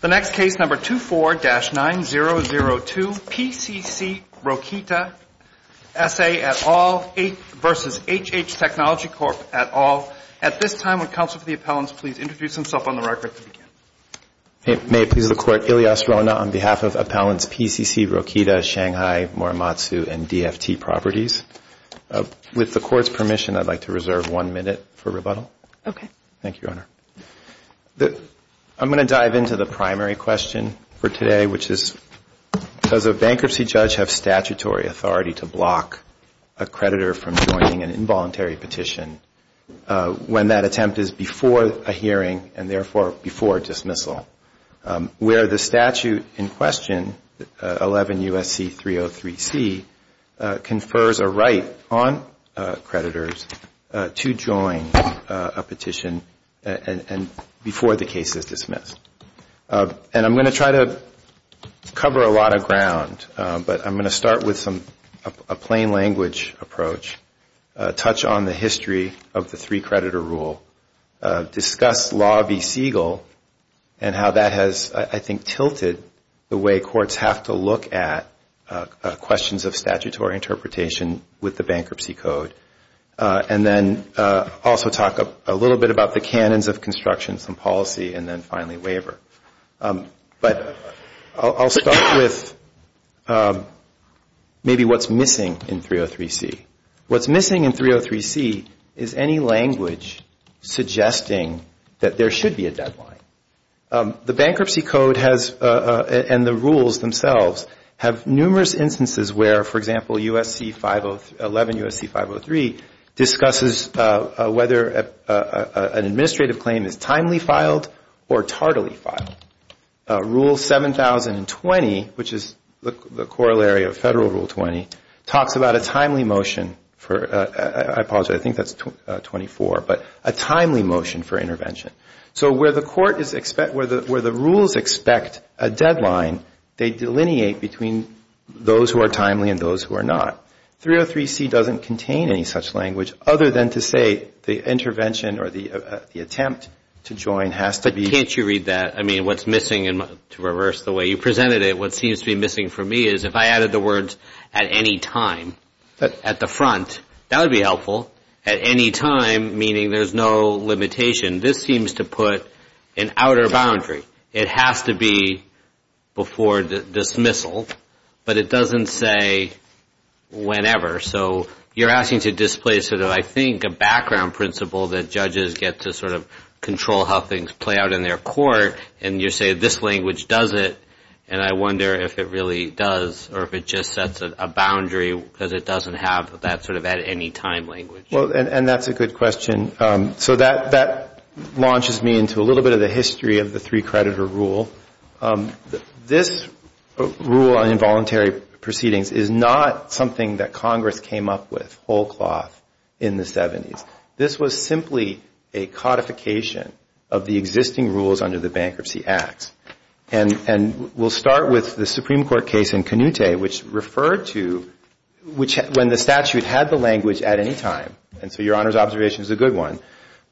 The next case, number 24-9002, PCC Rokita, S.A. v. HH Technology Corp. et al. At this time, would counsel for the appellants please introduce themselves on the record to begin. May it please the Court, Ilyas Rona on behalf of appellants PCC Rokita, Shanghai Morimatsu and DFT Properties. With the Court's permission, I'd like to reserve one minute for rebuttal. Okay. Thank you, Your Honor. I'm going to dive into the primary question for today, which is, does a bankruptcy judge have statutory authority to block a creditor from joining an involuntary petition when that attempt is before a hearing and therefore before dismissal? Where the statute in question, 11 U.S.C. 303C, confers a right on creditors to join a petition before the case is dismissed. And I'm going to try to cover a lot of ground, but I'm going to start with a plain language approach, touch on the history of the three-creditor rule, discuss Law v. Siegel and how that has, I think, tilted the way courts have to look at questions of statutory interpretation with the bankruptcy code, and then also talk a little bit about the canons of construction, some policy, and then finally waiver. But I'll start with maybe what's missing in 303C. What's missing in 303C is any language suggesting that there should be a deadline. The bankruptcy code has, and the rules themselves, have numerous instances where, for example, 11 U.S.C. 503 discusses whether an administrative claim is timely filed or tardily filed. Rule 7020, which is the corollary of Federal Rule 20, talks about a timely motion for, I apologize, I think that's 24, but a timely motion for intervention. So where the court is, where the rules expect a deadline, they delineate between those who are timely and those who are not. 303C doesn't contain any such language other than to say the intervention or the attempt to join has to be. But can't you read that? I mean, what's missing, and to reverse the way you presented it, what seems to be missing for me is if I added the words at any time, at the front, that would be helpful. At any time, meaning there's no limitation, this seems to put an outer boundary. It has to be before dismissal, but it doesn't say whenever. So you're asking to display sort of, I think, a background principle that judges get to sort of control how things play out in their court, and you say this language does it, and I wonder if it really does or if it just sets a boundary because it doesn't have that sort of at-any-time language. Well, and that's a good question. So that launches me into a little bit of the history of the three-creditor rule. This rule on involuntary proceedings is not something that Congress came up with whole cloth in the 70s. This was simply a codification of the existing rules under the Bankruptcy Acts. And we'll start with the Supreme Court case in Canute, which referred to when the statute had the language at any time, and so Your Honor's observation is a good one,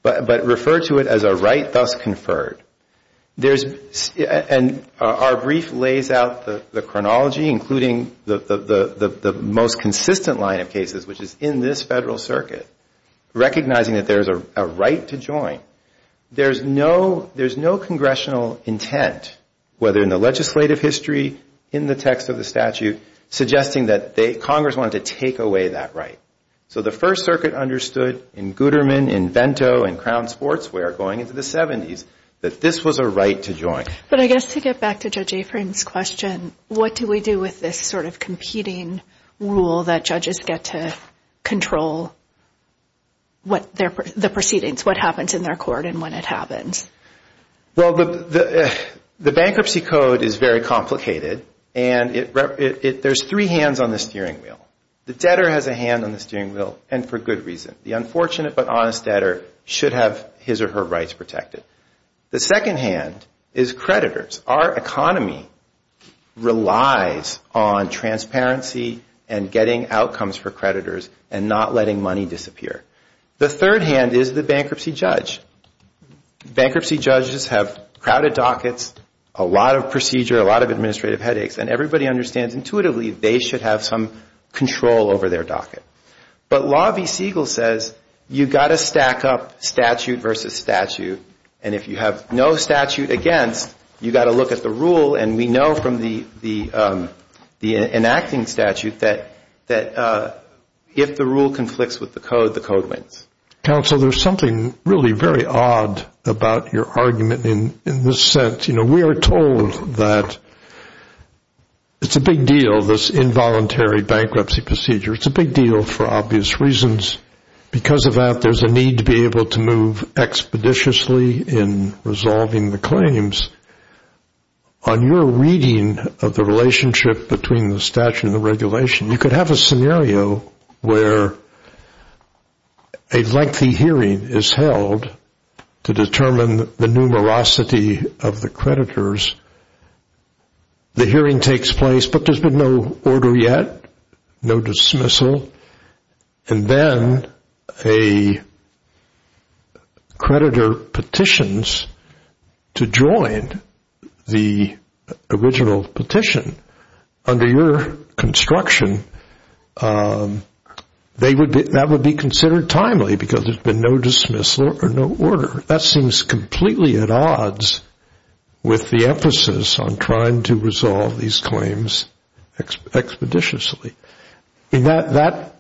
but referred to it as a right thus conferred. And our brief lays out the chronology, including the most consistent line of cases, which is in this Federal Circuit, recognizing that there's a right to join. There's no congressional intent, whether in the legislative history, in the text of the statute, suggesting that Congress wanted to take away that right. So the First Circuit understood in Gooderman, in Vento, in Crown Sportswear going into the 70s, that this was a right to join. But I guess to get back to Judge Afrin's question, what do we do with this sort of competing rule that judges get to control the proceedings, what happens in their court and when it happens? Well, the Bankruptcy Code is very complicated, and there's three hands on the steering wheel. The debtor has a hand on the steering wheel, and for good reason. The unfortunate but honest debtor should have his or her rights protected. The second hand is creditors. Our economy relies on transparency and getting outcomes for creditors and not letting money disappear. The third hand is the bankruptcy judge. Bankruptcy judges have crowded dockets, a lot of procedure, a lot of administrative headaches, and everybody understands intuitively they should have some control over their docket. But Law v. Siegel says you've got to stack up statute versus statute, and if you have no statute against, you've got to look at the rule, and we know from the enacting statute that if the rule conflicts with the code, the code wins. Counsel, there's something really very odd about your argument in this sense. We are told that it's a big deal, this involuntary bankruptcy procedure. It's a big deal for obvious reasons. Because of that, there's a need to be able to move expeditiously in resolving the claims. On your reading of the relationship between the statute and the regulation, you could have a scenario where a lengthy hearing is held to determine the numerosity of the creditors. The hearing takes place, but there's been no order yet, no dismissal, and then a creditor petitions to join the original petition. Under your construction, that would be considered timely because there's been no dismissal or no order. That seems completely at odds with the emphasis on trying to resolve these claims expeditiously. That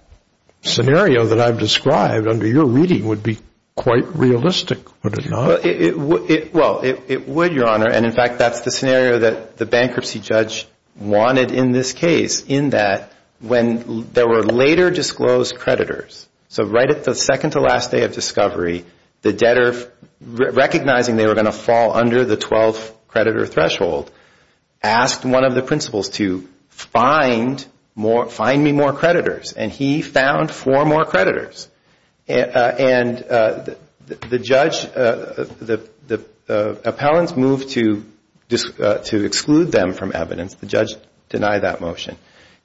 scenario that I've described under your reading would be quite realistic, would it not? Well, it would, Your Honor, and in fact, that's the scenario that the bankruptcy judge wanted in this case, in that when there were later disclosed creditors, so right at the second to last day of discovery, the debtor, recognizing they were going to fall under the 12-creditor threshold, asked one of the principals to find me more creditors. And he found four more creditors. And the judge, the appellants moved to exclude them from evidence. The judge denied that motion.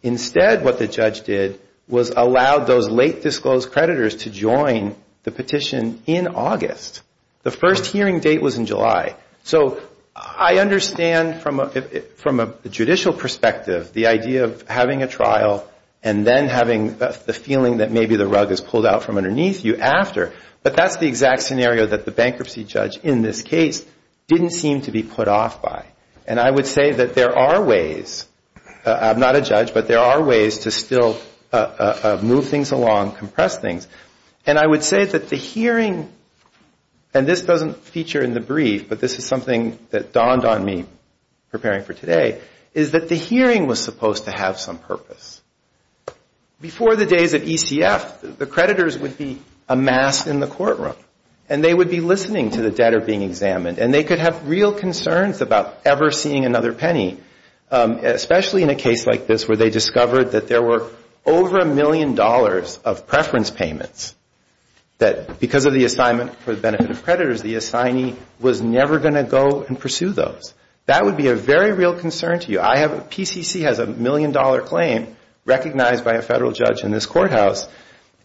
Instead, what the judge did was allow those late disclosed creditors to join the petition in August. The first hearing date was in July. So I understand from a judicial perspective the idea of having a trial and then having the feeling that maybe the rug is pulled out from underneath you after, but that's the exact scenario that the bankruptcy judge in this case didn't seem to be put off by. And I would say that there are ways, I'm not a judge, but there are ways to still move things along, compress things. And I would say that the hearing, and this doesn't feature in the brief, but this is something that dawned on me preparing for today, is that the hearing was supposed to have some purpose. Before the days of ECF, the creditors would be amassed in the courtroom. And they would be listening to the debtor being examined. And they could have real concerns about ever seeing another penny, especially in a case like this where they discovered that there were over a million dollars of preference payments that, because of the assignment for the benefit of creditors, the assignee was never going to go and pursue those. That would be a very real concern to you. PCC has a million-dollar claim recognized by a federal judge in this courthouse,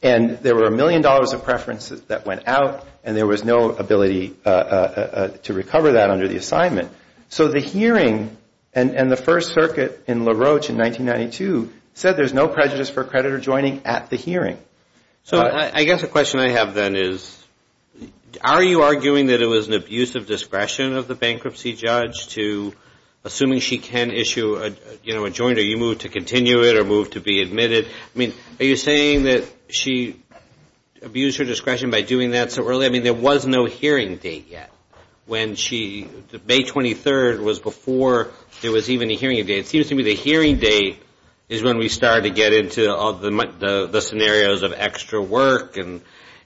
and there were a million dollars of preferences that went out, and there was no ability to recover that under the assignment. So the hearing, and the First Circuit in LaRoche in 1992 said there's no prejudice for a creditor joining at the hearing. So I guess a question I have then is, are you arguing that it was an abuse of discretion of the bankruptcy judge to assuming she can issue a claim? I mean, are you saying that she abused her discretion by doing that so early? I mean, there was no hearing date yet when she, May 23rd was before there was even a hearing date. It seems to me the hearing date is when we start to get into the scenarios of extra work, and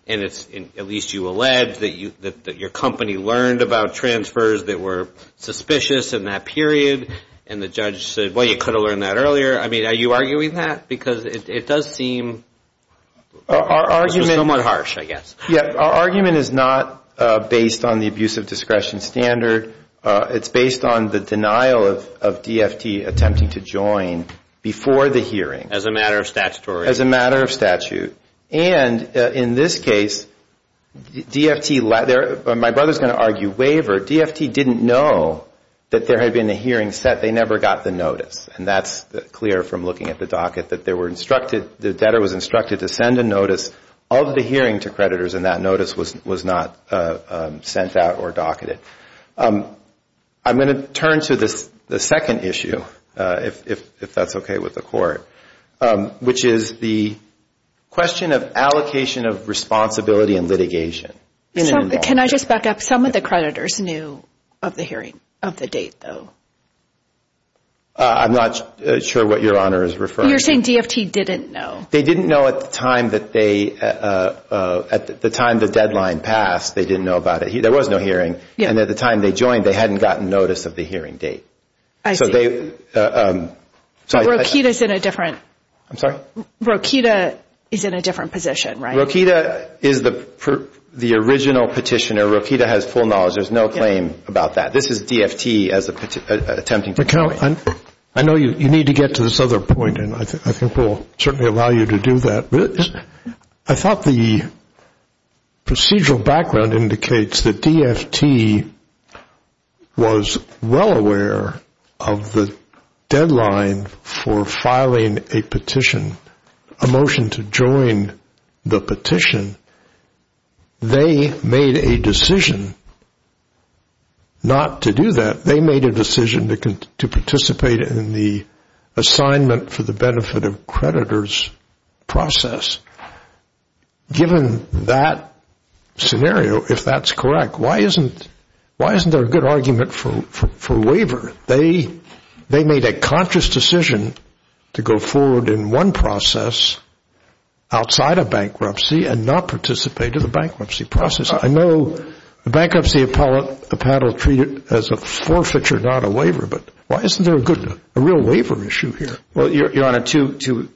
at least you allege that your company learned about transfers that were suspicious in that period, and the judges were not. And the judge said, well, you could have learned that earlier. I mean, are you arguing that? Because it does seem somewhat harsh, I guess. Our argument is not based on the abuse of discretion standard. It's based on the denial of DFT attempting to join before the hearing. As a matter of statutory. As a matter of statute. And in this case, DFT, my brother's going to argue waiver. DFT didn't know that there had been a hearing set. They never got the notice, and that's clear from looking at the docket that the debtor was instructed to send a notice of the hearing to creditors, and that notice was not sent out or docketed. I'm going to turn to the second issue, if that's okay with the court, which is the question of allocation of responsibility and litigation. Can I just back up? Some of the creditors knew of the hearing of the date, though. I'm not sure what Your Honor is referring to. You're saying DFT didn't know. They didn't know at the time that they, at the time the deadline passed, they didn't know about it. There was no hearing, and at the time they joined, they hadn't gotten notice of the hearing date. I see. But Rokita is in a different position, right? Rokita is the original petitioner. Rokita has full knowledge. There's no claim about that. This is DFT attempting to do that. I know you need to get to this other point, and I think we'll certainly allow you to do that. I thought the procedural background indicates that DFT was well aware of the deadline for filing a petition, a motion to join the petition. They made a decision not to do that. They made a decision to participate in the assignment for the benefit of creditors process. Given that scenario, if that's correct, why isn't there a good argument for waiver? They made a conscious decision to go forward in one process outside of bankruptcy and not in another. They did not participate in the bankruptcy process. I know the bankruptcy panel treated it as a forfeiture, not a waiver, but why isn't there a real waiver issue here? Well, Your Honor, two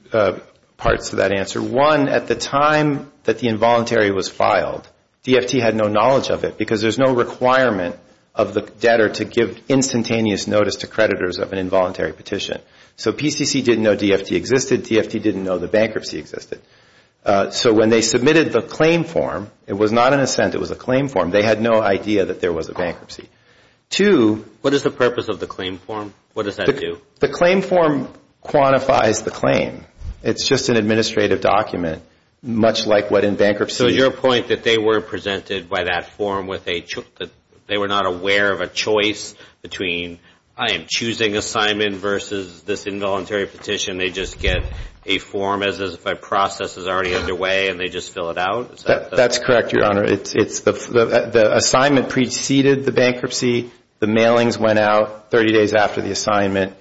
parts to that answer. One, at the time that the involuntary was filed, DFT had no knowledge of it because there's no requirement of the debtor to give instantaneous notice to creditors of an involuntary petition. So PCC didn't know DFT existed. DFT didn't know the bankruptcy existed. So when they submitted the claim form, it was not an assent, it was a claim form. They had no idea that there was a bankruptcy. Two. What is the purpose of the claim form? What does that do? The claim form quantifies the claim. It's just an administrative document, much like what in bankruptcy. So your point that they were presented by that form, they were not aware of a choice between I am choosing assignment versus this involuntary petition. They just get a form as if a process is already underway and they just fill it out? That's correct, Your Honor. The assignment preceded the bankruptcy. The mailings went out 30 days after the assignment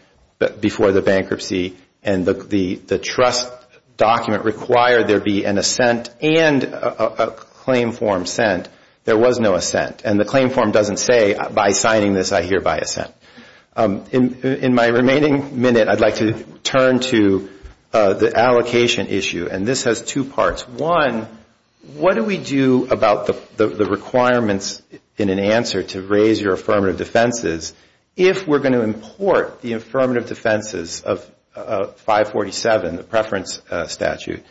before the bankruptcy. And the trust document required there be an assent and a claim form sent. There was no assent. And the claim form doesn't say by signing this I hereby assent. In my remaining minute, I'd like to turn to the allocation issue. And this has two parts. One, what do we do about the requirements in an answer to raise your affirmative defenses if we're going to import the affirmative defenses of 547, the preference statute,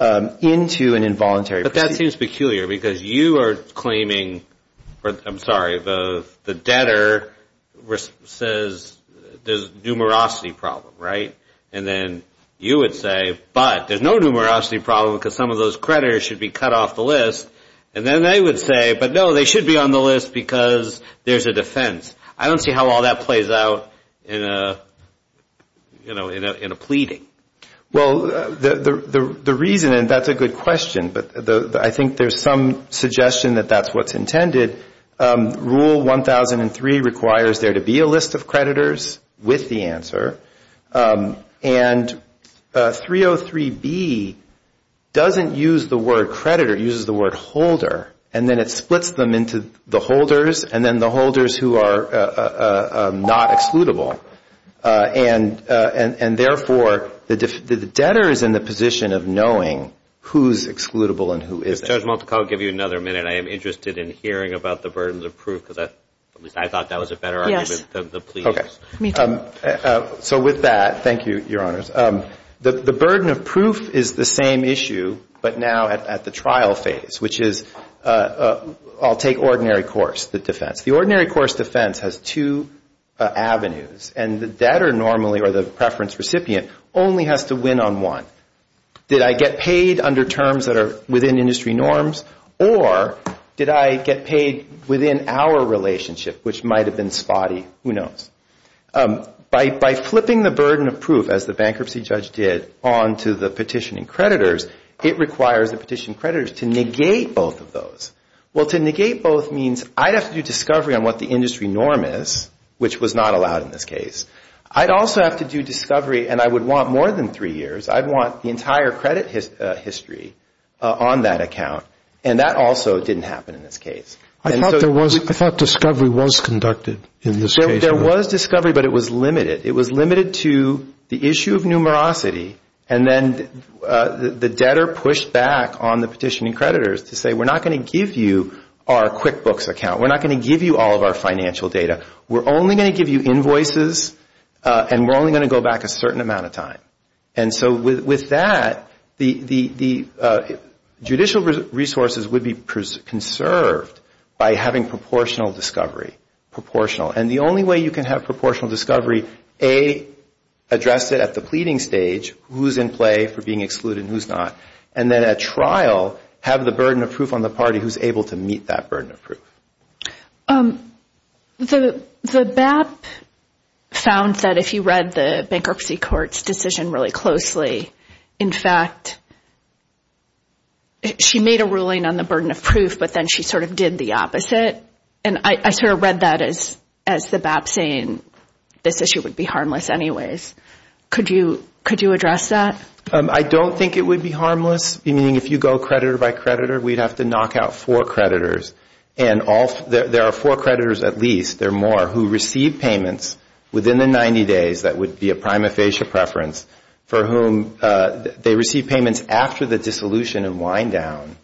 into an involuntary petition? But that seems peculiar because you are claiming, I'm sorry, the debtor responsible for the claim. He says there's a numerosity problem, right? And then you would say, but there's no numerosity problem because some of those creditors should be cut off the list. And then they would say, but no, they should be on the list because there's a defense. I don't see how all that plays out in a pleading. Well, the reason, and that's a good question, but I think there's some suggestion that that's what's intended. Rule 1003 requires there to be a list of creditors with the answer. And 303B doesn't use the word creditor. It uses the word holder. And then it splits them into the holders and then the holders who are not excludable. And therefore, the debtor is in the position of knowing who's excludable and who isn't. Judge Multicombe, I'll give you another minute. I am interested in hearing about the burden of proof because I thought that was a better argument than the plea. So with that, thank you, Your Honors. The burden of proof is the same issue, but now at the trial phase, which is I'll take ordinary course, the defense. The ordinary course defense has two avenues. And the debtor normally, or the preference recipient, only has to win on one. Did I get paid under terms that are within industry norms, or did I get paid within our relationship, which might have been spotty? Who knows? By flipping the burden of proof, as the bankruptcy judge did, onto the petitioning creditors, it requires the petitioning creditors to negate both of those. Well, to negate both means I'd have to do discovery on what the industry norm is, which was not allowed in this case. I'd also have to do discovery, and I would want more than three years. I'd want the entire credit history on that account, and that also didn't happen in this case. I thought discovery was conducted in this case. There was discovery, but it was limited. It was limited to the issue of numerosity, and then the debtor pushed back on the petitioning creditors to say we're not going to give you our QuickBooks account. We're not going to give you all of our financial data. We're only going to give you invoices, and we're only going to go back a certain amount of time. And so with that, the judicial resources would be conserved by having proportional discovery. And the only way you can have proportional discovery, A, address it at the pleading stage, who's in play for being excluded and who's not, and then at trial, have the burden of proof on the party who's able to meet that burden of proof. The BAP found that if you read the bankruptcy court's decision really closely, in fact, she made a ruling on the burden of proof, but then she sort of did the opposite. And I sort of read that as the BAP saying this issue would be harmless anyways. Could you address that? I don't think it would be harmless, meaning if you go creditor by creditor, we'd have to knock out four creditors. And there are four creditors at least, there are more, who received payments within the 90 days that would be a prima facie preference for whom they received payments after the dissolution and wind down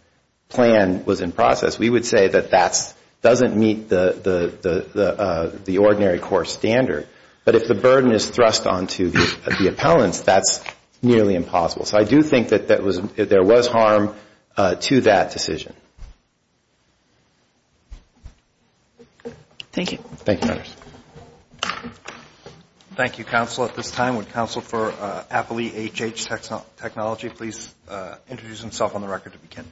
plan was in process. We would say that that doesn't meet the ordinary court standard. But if the burden is thrust onto the appellants, that's nearly impossible. So I do think that there was harm to that decision. Thank you. Thank you, counsel. At this time, would counsel for appellee HH Technology please introduce himself on the record to begin.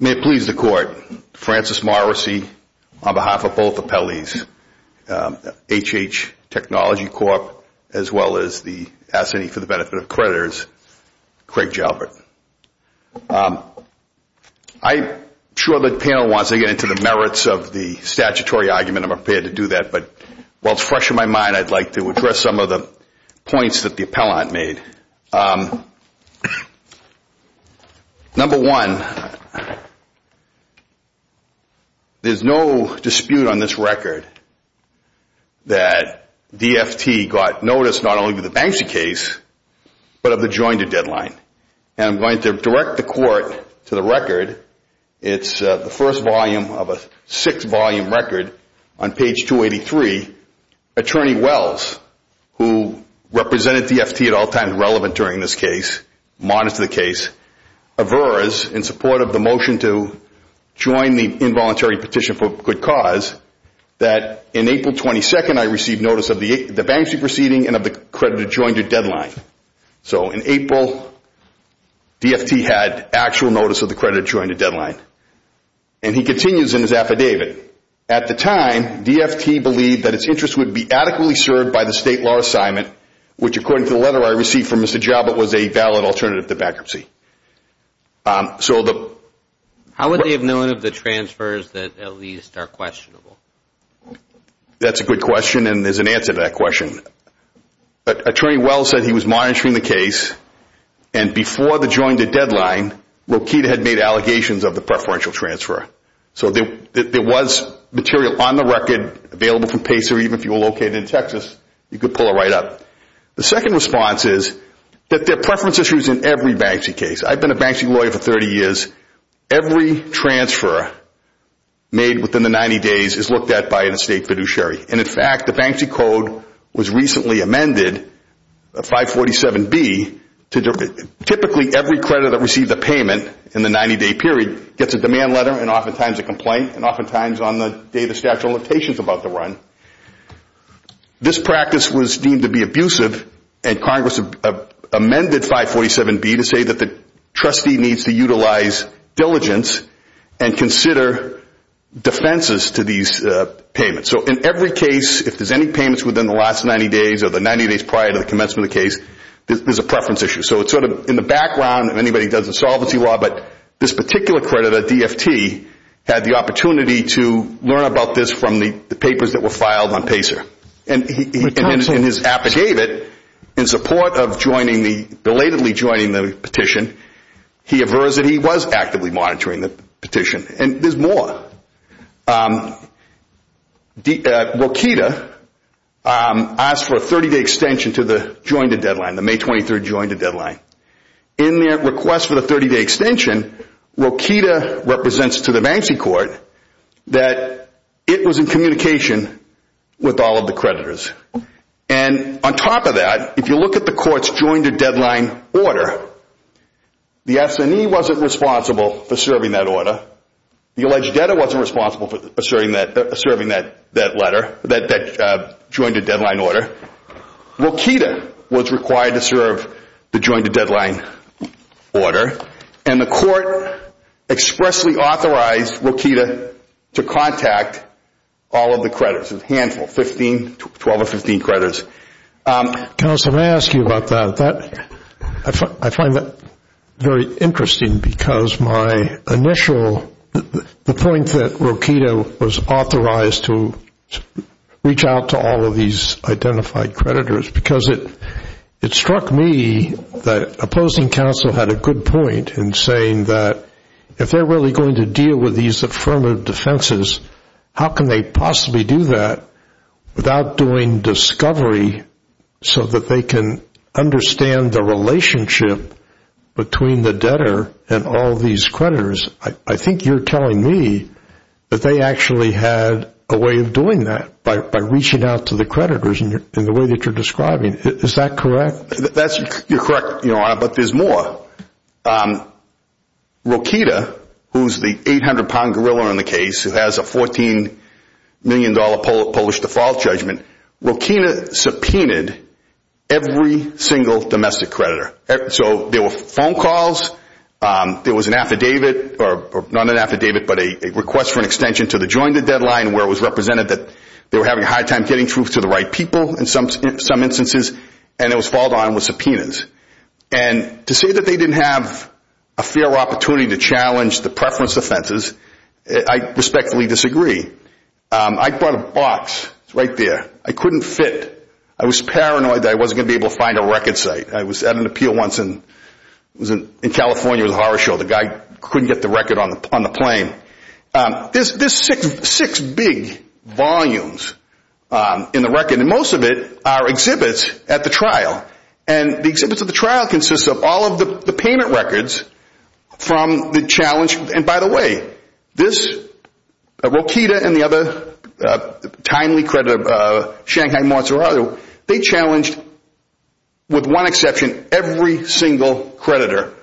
May it please the court, Francis Morrissey on behalf of both appellees, HH Technology Corp., as well as the S&E for the Benefit of Creditors, Craig Jalbert. I'm sure the panel wants to get into the merits of the statutory argument. I'm prepared to do that. But while it's fresh in my mind, I'd like to address some of the points that the appellant made. Number one, there's no dispute on this record that DFT got notice not only of the Banksy case, but of the joinder deadline. And I'm going to direct the court to the record. It's the first volume of a six-volume record on page 283. Attorney Wells, who represented DFT at all times relevant during this case, monitors the case, averts in support of the motion to join the involuntary petition for good cause that in April 22nd, I received notice of the Banksy proceeding and of the creditor joinder deadline. So in April, DFT had actual notice of the creditor joinder deadline. And he continues in his affidavit. At the time, DFT believed that its interest would be adequately served by the state law assignment, which according to the letter I received from Mr. Jalbert was a valid alternative to bankruptcy. How would they have known of the transfers that at least are questionable? That's a good question, and there's an answer to that question. Attorney Wells said he was monitoring the case, and before the joinder deadline, Rokita had made allegations of the preferential transfer. So there was material on the record available from Pacer, even if you were located in Texas, you could pull it right up. The second response is that there are preference issues in every Banksy case. I've been a Banksy lawyer for 30 years. Every transfer made within the 90 days is looked at by an estate fiduciary. And in fact, the Banksy Code was recently amended, 547B. Typically, every creditor that received a payment in the 90-day period gets a demand letter and oftentimes a complaint, and oftentimes on the day the statute of limitations is about to run. This practice was deemed to be abusive, and Congress amended 547B to say that the trustee needs to utilize diligence and consider defenses to these payments. So in every case, if there's any payments within the last 90 days or the 90 days prior to the commencement of the case, there's a preference issue. So it's sort of in the background if anybody does insolvency law, but this particular creditor, DFT, had the opportunity to learn about this from the papers that were filed on Pacer. And in his affidavit, in support of belatedly joining the petition, he aversed that he was actively monitoring the petition. And there's more. Rokita asked for a 30-day extension to the jointed deadline, the May 23rd jointed deadline. In their request for the 30-day extension, Rokita represents to the Banksy Court that it was in communication with all of the creditors. And on top of that, if you look at the Court's jointed deadline order, the S&E wasn't responsible for serving that order. The alleged debtor wasn't responsible for serving that letter, that jointed deadline order. Rokita was required to serve the jointed deadline order. And the Court expressly authorized Rokita to contact all of the creditors, a handful, 15, 12 or 15 creditors. Counsel, may I ask you about that? I find that very interesting because my initial, the point that Rokita was authorized to reach out to all of these identified creditors, because it struck me that opposing counsel had a good point in saying that if they're really going to deal with these affirmative defenses, how can they possibly do that without doing discovery so that they can understand the relationship between the debtor and all of these creditors? I think you're telling me that they actually had a way of doing that by reaching out to the creditors in the way that you're describing. Is that correct? You're correct, Your Honor, but there's more. Rokita, who's the 800 pound gorilla in the case, who has a 14 million dollar Polish default judgment, Rokita subpoenaed every single domestic creditor. So there were phone calls, there was an affidavit, or not an affidavit, but a request for an extension to the jointed deadline where it was represented that they were having a hard time getting truth to the right people in some instances, and it was followed on with subpoenas. And to say that they didn't have a fair opportunity to challenge the preference offenses, I respectfully disagree. I brought a box. It's right there. I couldn't fit. I was paranoid that I wasn't going to be able to find a record site. I was at an appeal once in California. It was a horror show. The guy couldn't get the record on the plane. There's six big volumes in the record, and most of it are exhibits at the trial. And the exhibits at the trial consist of all of the payment records from the challenge. And by the way, Rokita and the other timely creditor, Shanghai Mazzarato, they challenged, with one exception, every single creditor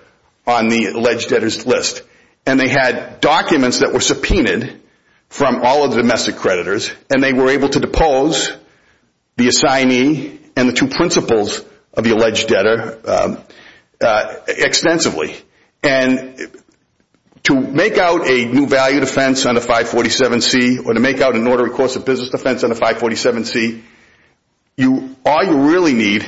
on the alleged debtors list. And they had documents that were subpoenaed from all of the domestic creditors, and they were able to depose the assignee and the two principals of the alleged debtor extensively. And to make out a new value defense under 547C, or to make out an order of course of business defense under 547C, all you really need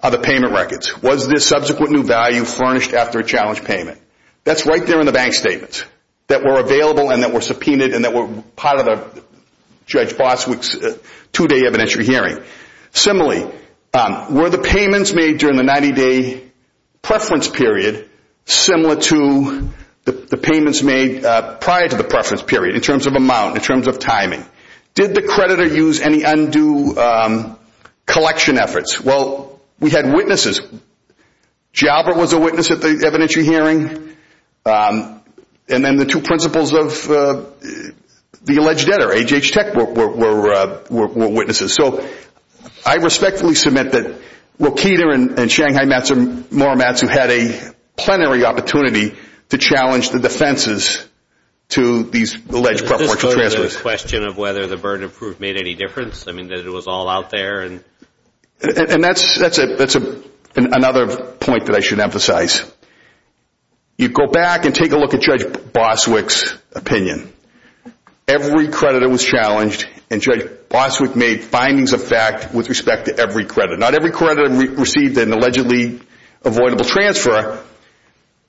are the payment records. Was this subsequent new value furnished after a challenge payment? That's right there in the bank statements that were available and that were subpoenaed and that were part of Judge Bosswick's two-day evidentiary hearing. Similarly, were the payments made during the 90-day preference period similar to the payments made prior to the two collection efforts? Well, we had witnesses. Jalbert was a witness at the evidentiary hearing, and then the two principals of the alleged debtor, AGH Tech, were witnesses. So I respectfully submit that Rokita and Shanghai Morimatsu had a plenary opportunity to challenge the defenses to these alleged preference transfers. Is this part of the question of whether the burden of proof made any difference? I mean, that it was all out there? And that's another point that I should emphasize. You go back and take a look at Judge Bosswick's opinion. Every creditor was challenged, and Judge Bosswick made findings of fact with respect to every creditor. Not every creditor received an allegedly avoidable transfer,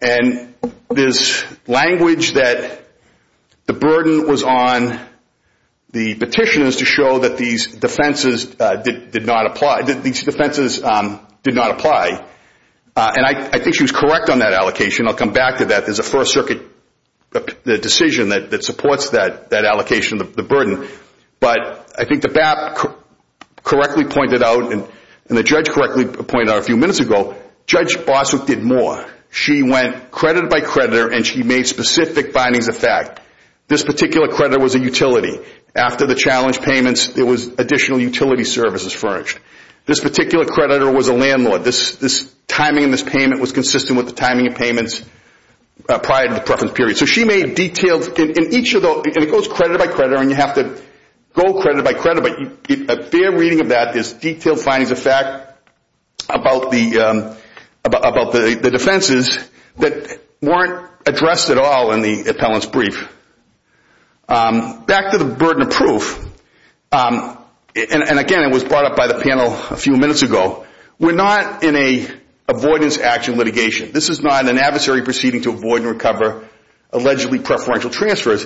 and there's language that the burden was on the petitioners to show that these defenses did not apply. And I think she was correct on that allocation. I'll come back to that. There's a First Circuit decision that supports that allocation of the burden. But I think the BAP correctly pointed out, and the judge correctly pointed out a few minutes ago, Judge Bosswick did more. She went creditor by creditor, and she made specific findings of fact. This particular creditor was a utility. After the challenge payments, there was additional utility services furnished. This particular creditor was a landlord. This timing in this payment was consistent with the timing of payments prior to the preference period. So she made a fair reading of that. There's detailed findings of fact about the defenses that weren't addressed at all in the appellant's brief. Back to the burden of proof. And again, it was brought up by the panel a few minutes ago. We're not in a avoidance action litigation. This is not an adversary proceeding to avoid and recover allegedly preferential transfers.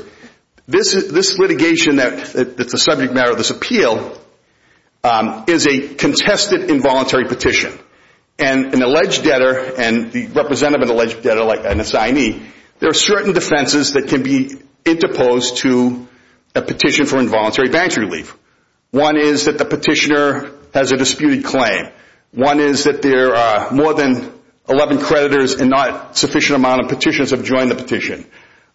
This litigation that's a subject matter of this appeal is a contested involuntary petition. And an alleged debtor, and the representative of an alleged debtor, like an assignee, there are certain defenses that can be interposed to a petition for involuntary bank relief. One is that the petitioner has a disputed claim. One is that there are more than 11 creditors and not a sufficient amount of petitioners have joined the petition.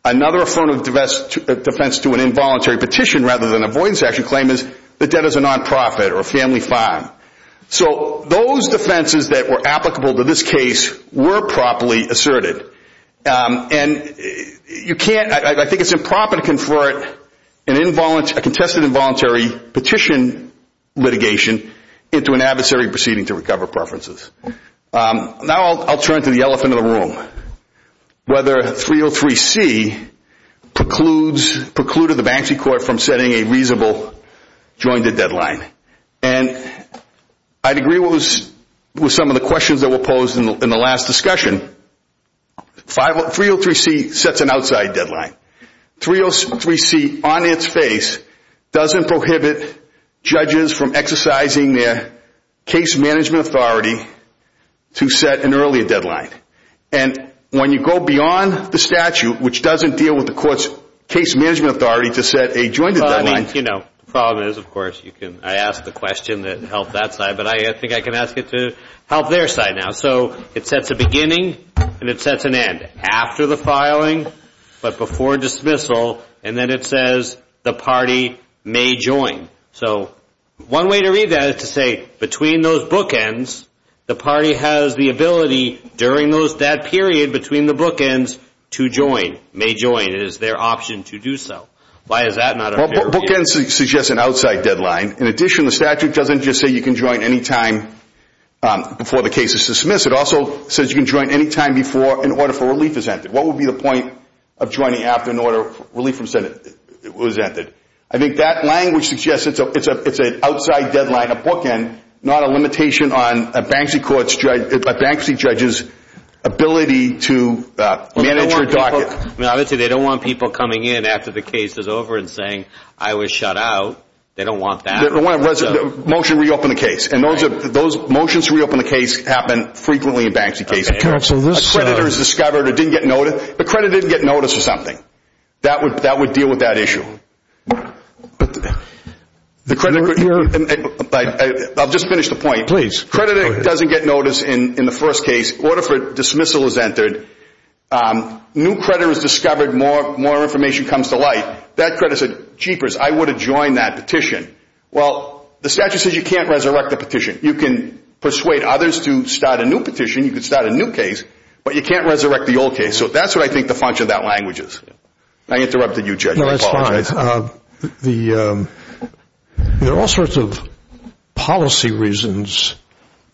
Another form of defense to an involuntary petition rather than an avoidance action claim is the debt is a non-profit or a family fine. So those defenses that were applicable to this case were properly asserted. And you can't, I think it's improper to convert a contested involuntary petition litigation into an adversary proceeding to recover preferences. Now I'll turn to the elephant of the room. Whether 303C precludes, precluded the Banksy Court from setting a reasonable jointed deadline. And I'd agree with some of the questions that were posed in the last discussion. 303C sets an outside deadline. 303C on its face doesn't prohibit judges from exercising their case management authority to set an earlier deadline. And when you go beyond the statute, which doesn't deal with the court's case management authority to set a jointed deadline. The problem is, of course, I asked the question that helped that side, but I think I can ask it to help their side now. So it sets a beginning and it sets an end. After the filing, but before dismissal, and then it says the party may join. So one way to read that is to say between those bookends, the party has the ability during that period between the bookends to join, may join. It is their option to do so. Why is that not a fair view? Bookends suggests an outside deadline. In addition, the statute doesn't just say you can join any time before the case is dismissed. It also says you can join any time before an order for relief is entered. What would be the point of joining after an order for relief from Senate was entered? I think that language suggests it's an outside deadline, a bookend, not a limitation on a bankruptcy judge's ability to manage your docket. They don't want people coming in after the case is over and saying I was shut out. They don't want that. Motion to reopen the case. And those motions to reopen the case happen frequently in bankruptcy cases. A creditor is discovered or didn't get notice. The creditor didn't get notice or something. That would deal with that issue. I'll just finish the point. Creditor doesn't get notice in the first case. Order for dismissal is entered. New creditor is discovered. More information comes to light. That creditor said, jeepers, I would have joined that petition. Well, the statute says you can't resurrect the petition. You can persuade others to start a new petition. You can start a new case. But you can't resurrect the old case. So that's what I think the function of that language is. I interrupted you, Judge. I apologize. There are all sorts of policy reasons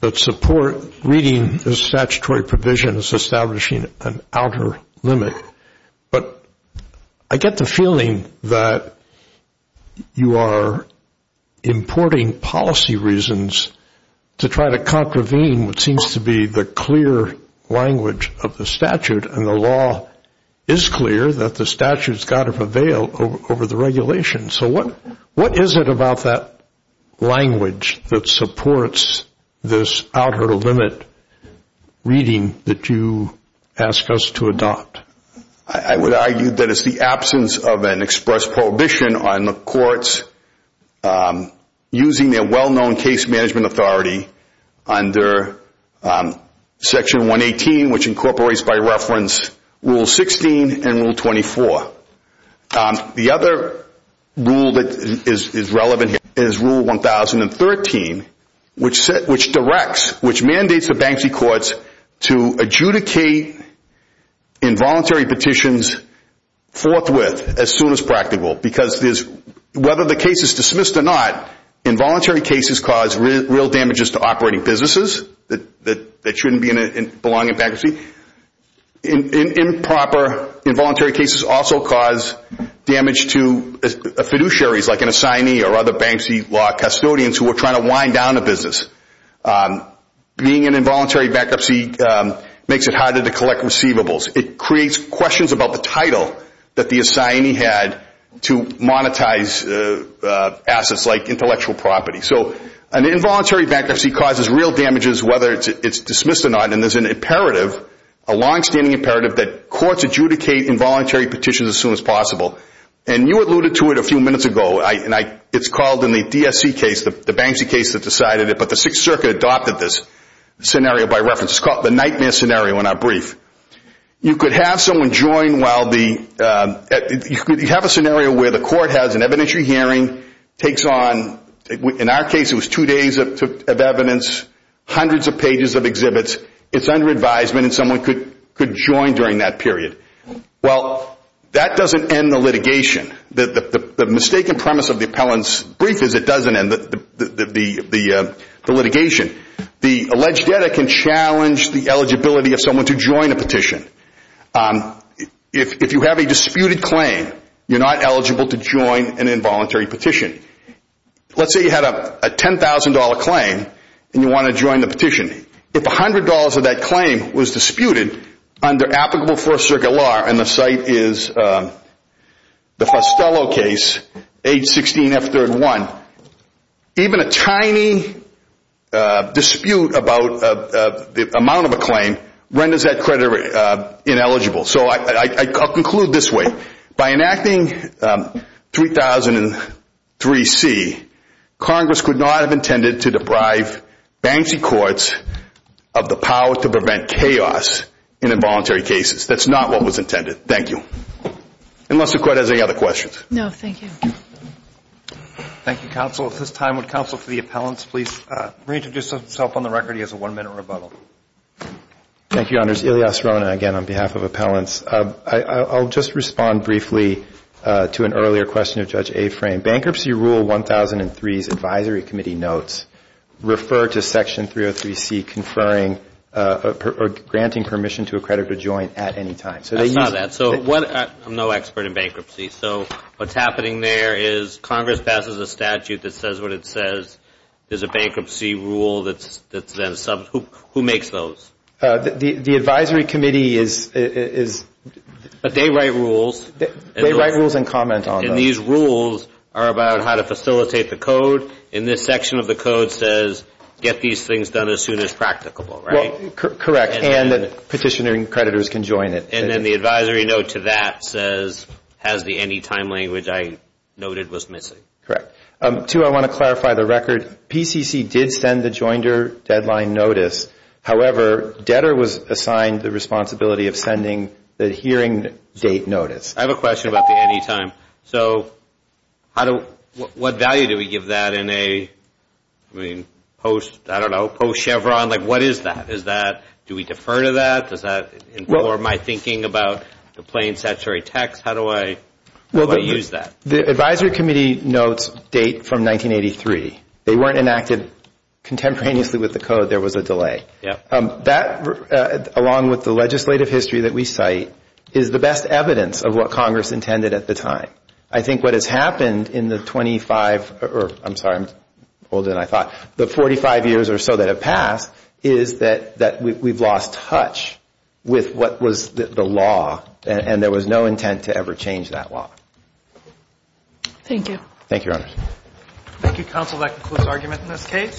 that support reading the statutory provision as establishing an outer limit. But I get the feeling that you are importing policy reasons to try to contravene what seems to be the clear language of the statute. And the law is clear that the statute has got to prevail over the regulation. So what is it about that language that supports this outer limit reading that you ask us to adopt? I would argue that it's the absence of an express prohibition on the courts using their well-known case management authority under Section 118, which incorporates by reference Rule 16 and Rule 24. The other rule that is relevant is Rule 1013, which directs, which mandates the Banksy courts to adjudicate involuntary petitions forthwith as soon as practical because whether the case is dismissed or not, involuntary cases cause real damages to operating businesses that shouldn't belong in bankruptcy. Improper involuntary cases also cause damage to fiduciaries like an assignee or other Banksy law custodians who are trying to wind down a business. Being in involuntary bankruptcy makes it harder to collect receivables. It creates questions about the title that the assignee had to monetize assets like intellectual property. So an involuntary bankruptcy causes real damages whether it's dismissed or not. And there's an imperative, a longstanding imperative that courts adjudicate involuntary petitions as soon as possible. And you alluded to it a few minutes ago. It's called in the DSC case, the Banksy case that decided it, but the Sixth Circuit adopted this scenario by reference. It's called the nightmare scenario in our brief. You could have someone join while the, you have a scenario where the court has an evidentiary hearing, takes on, in our case it was two days of evidence, hundreds of pages of exhibits. It's under advisement and someone could join during that period. Well, that doesn't end the litigation. The mistaken premise of the appellant's brief is it doesn't end the litigation. The alleged debtor can challenge the eligibility of someone to join a petition. If you have a disputed claim, you're not eligible to join an involuntary petition. Let's say you had a $10,000 claim and you want to join the petition. If $100 of that claim was disputed under applicable Fourth Circuit law, and the site is the Fostello case, H16F31, even a tiny dispute about the amount of a claim renders that creditor ineligible. I'll conclude this way. By enacting 3003C, Congress could not have intended to deprive Banksy courts of the power to prevent chaos in involuntary cases. That's not what was intended. Thank you. Unless the Court has any other questions. No, thank you. Thank you, Counsel. At this time, would Counsel for the Appellants please reintroduce himself on the record. He has a one-minute rebuttal. Thank you, Your Honors. Ilyas Rona, again, on behalf of Appellants. I'll just respond briefly to an earlier question of Judge Aframe. Bankruptcy Rule 1003's advisory committee notes refer to Section 303C conferring or granting permission to a creditor to join at any time. That's not that. I'm no expert in bankruptcy. So what's happening there is Congress passes a statute that says what it says. There's a bankruptcy rule that's then subbed. Who makes those? The advisory committee is. But they write rules. They write rules and comment on them. And these rules are about how to facilitate the code. And this section of the code says, get these things done as soon as practicable, right? Correct. And petitioning creditors can join it. And then the advisory note to that says, has the any time language I noted was missing. Correct. Two, I want to clarify the record. PCC did send the joinder deadline notice. However, debtor was assigned the responsibility of sending the hearing date notice. I have a question about the any time. So what value do we give that in a, I mean, post, I don't know, post-Chevron? Like, what is that? Is that, do we defer to that? Does that inform my thinking about the plain statutory text? How do I use that? The advisory committee notes date from 1983. They weren't enacted contemporaneously with the code. There was a delay. That, along with the legislative history that we cite, is the best evidence of what Congress intended at the time. I think what has happened in the 25, or I'm sorry, I'm older than I thought, the 45 years or so that have passed is that we've lost touch with what was the law, and there was no intent to ever change that law. Thank you. Thank you, Your Honors.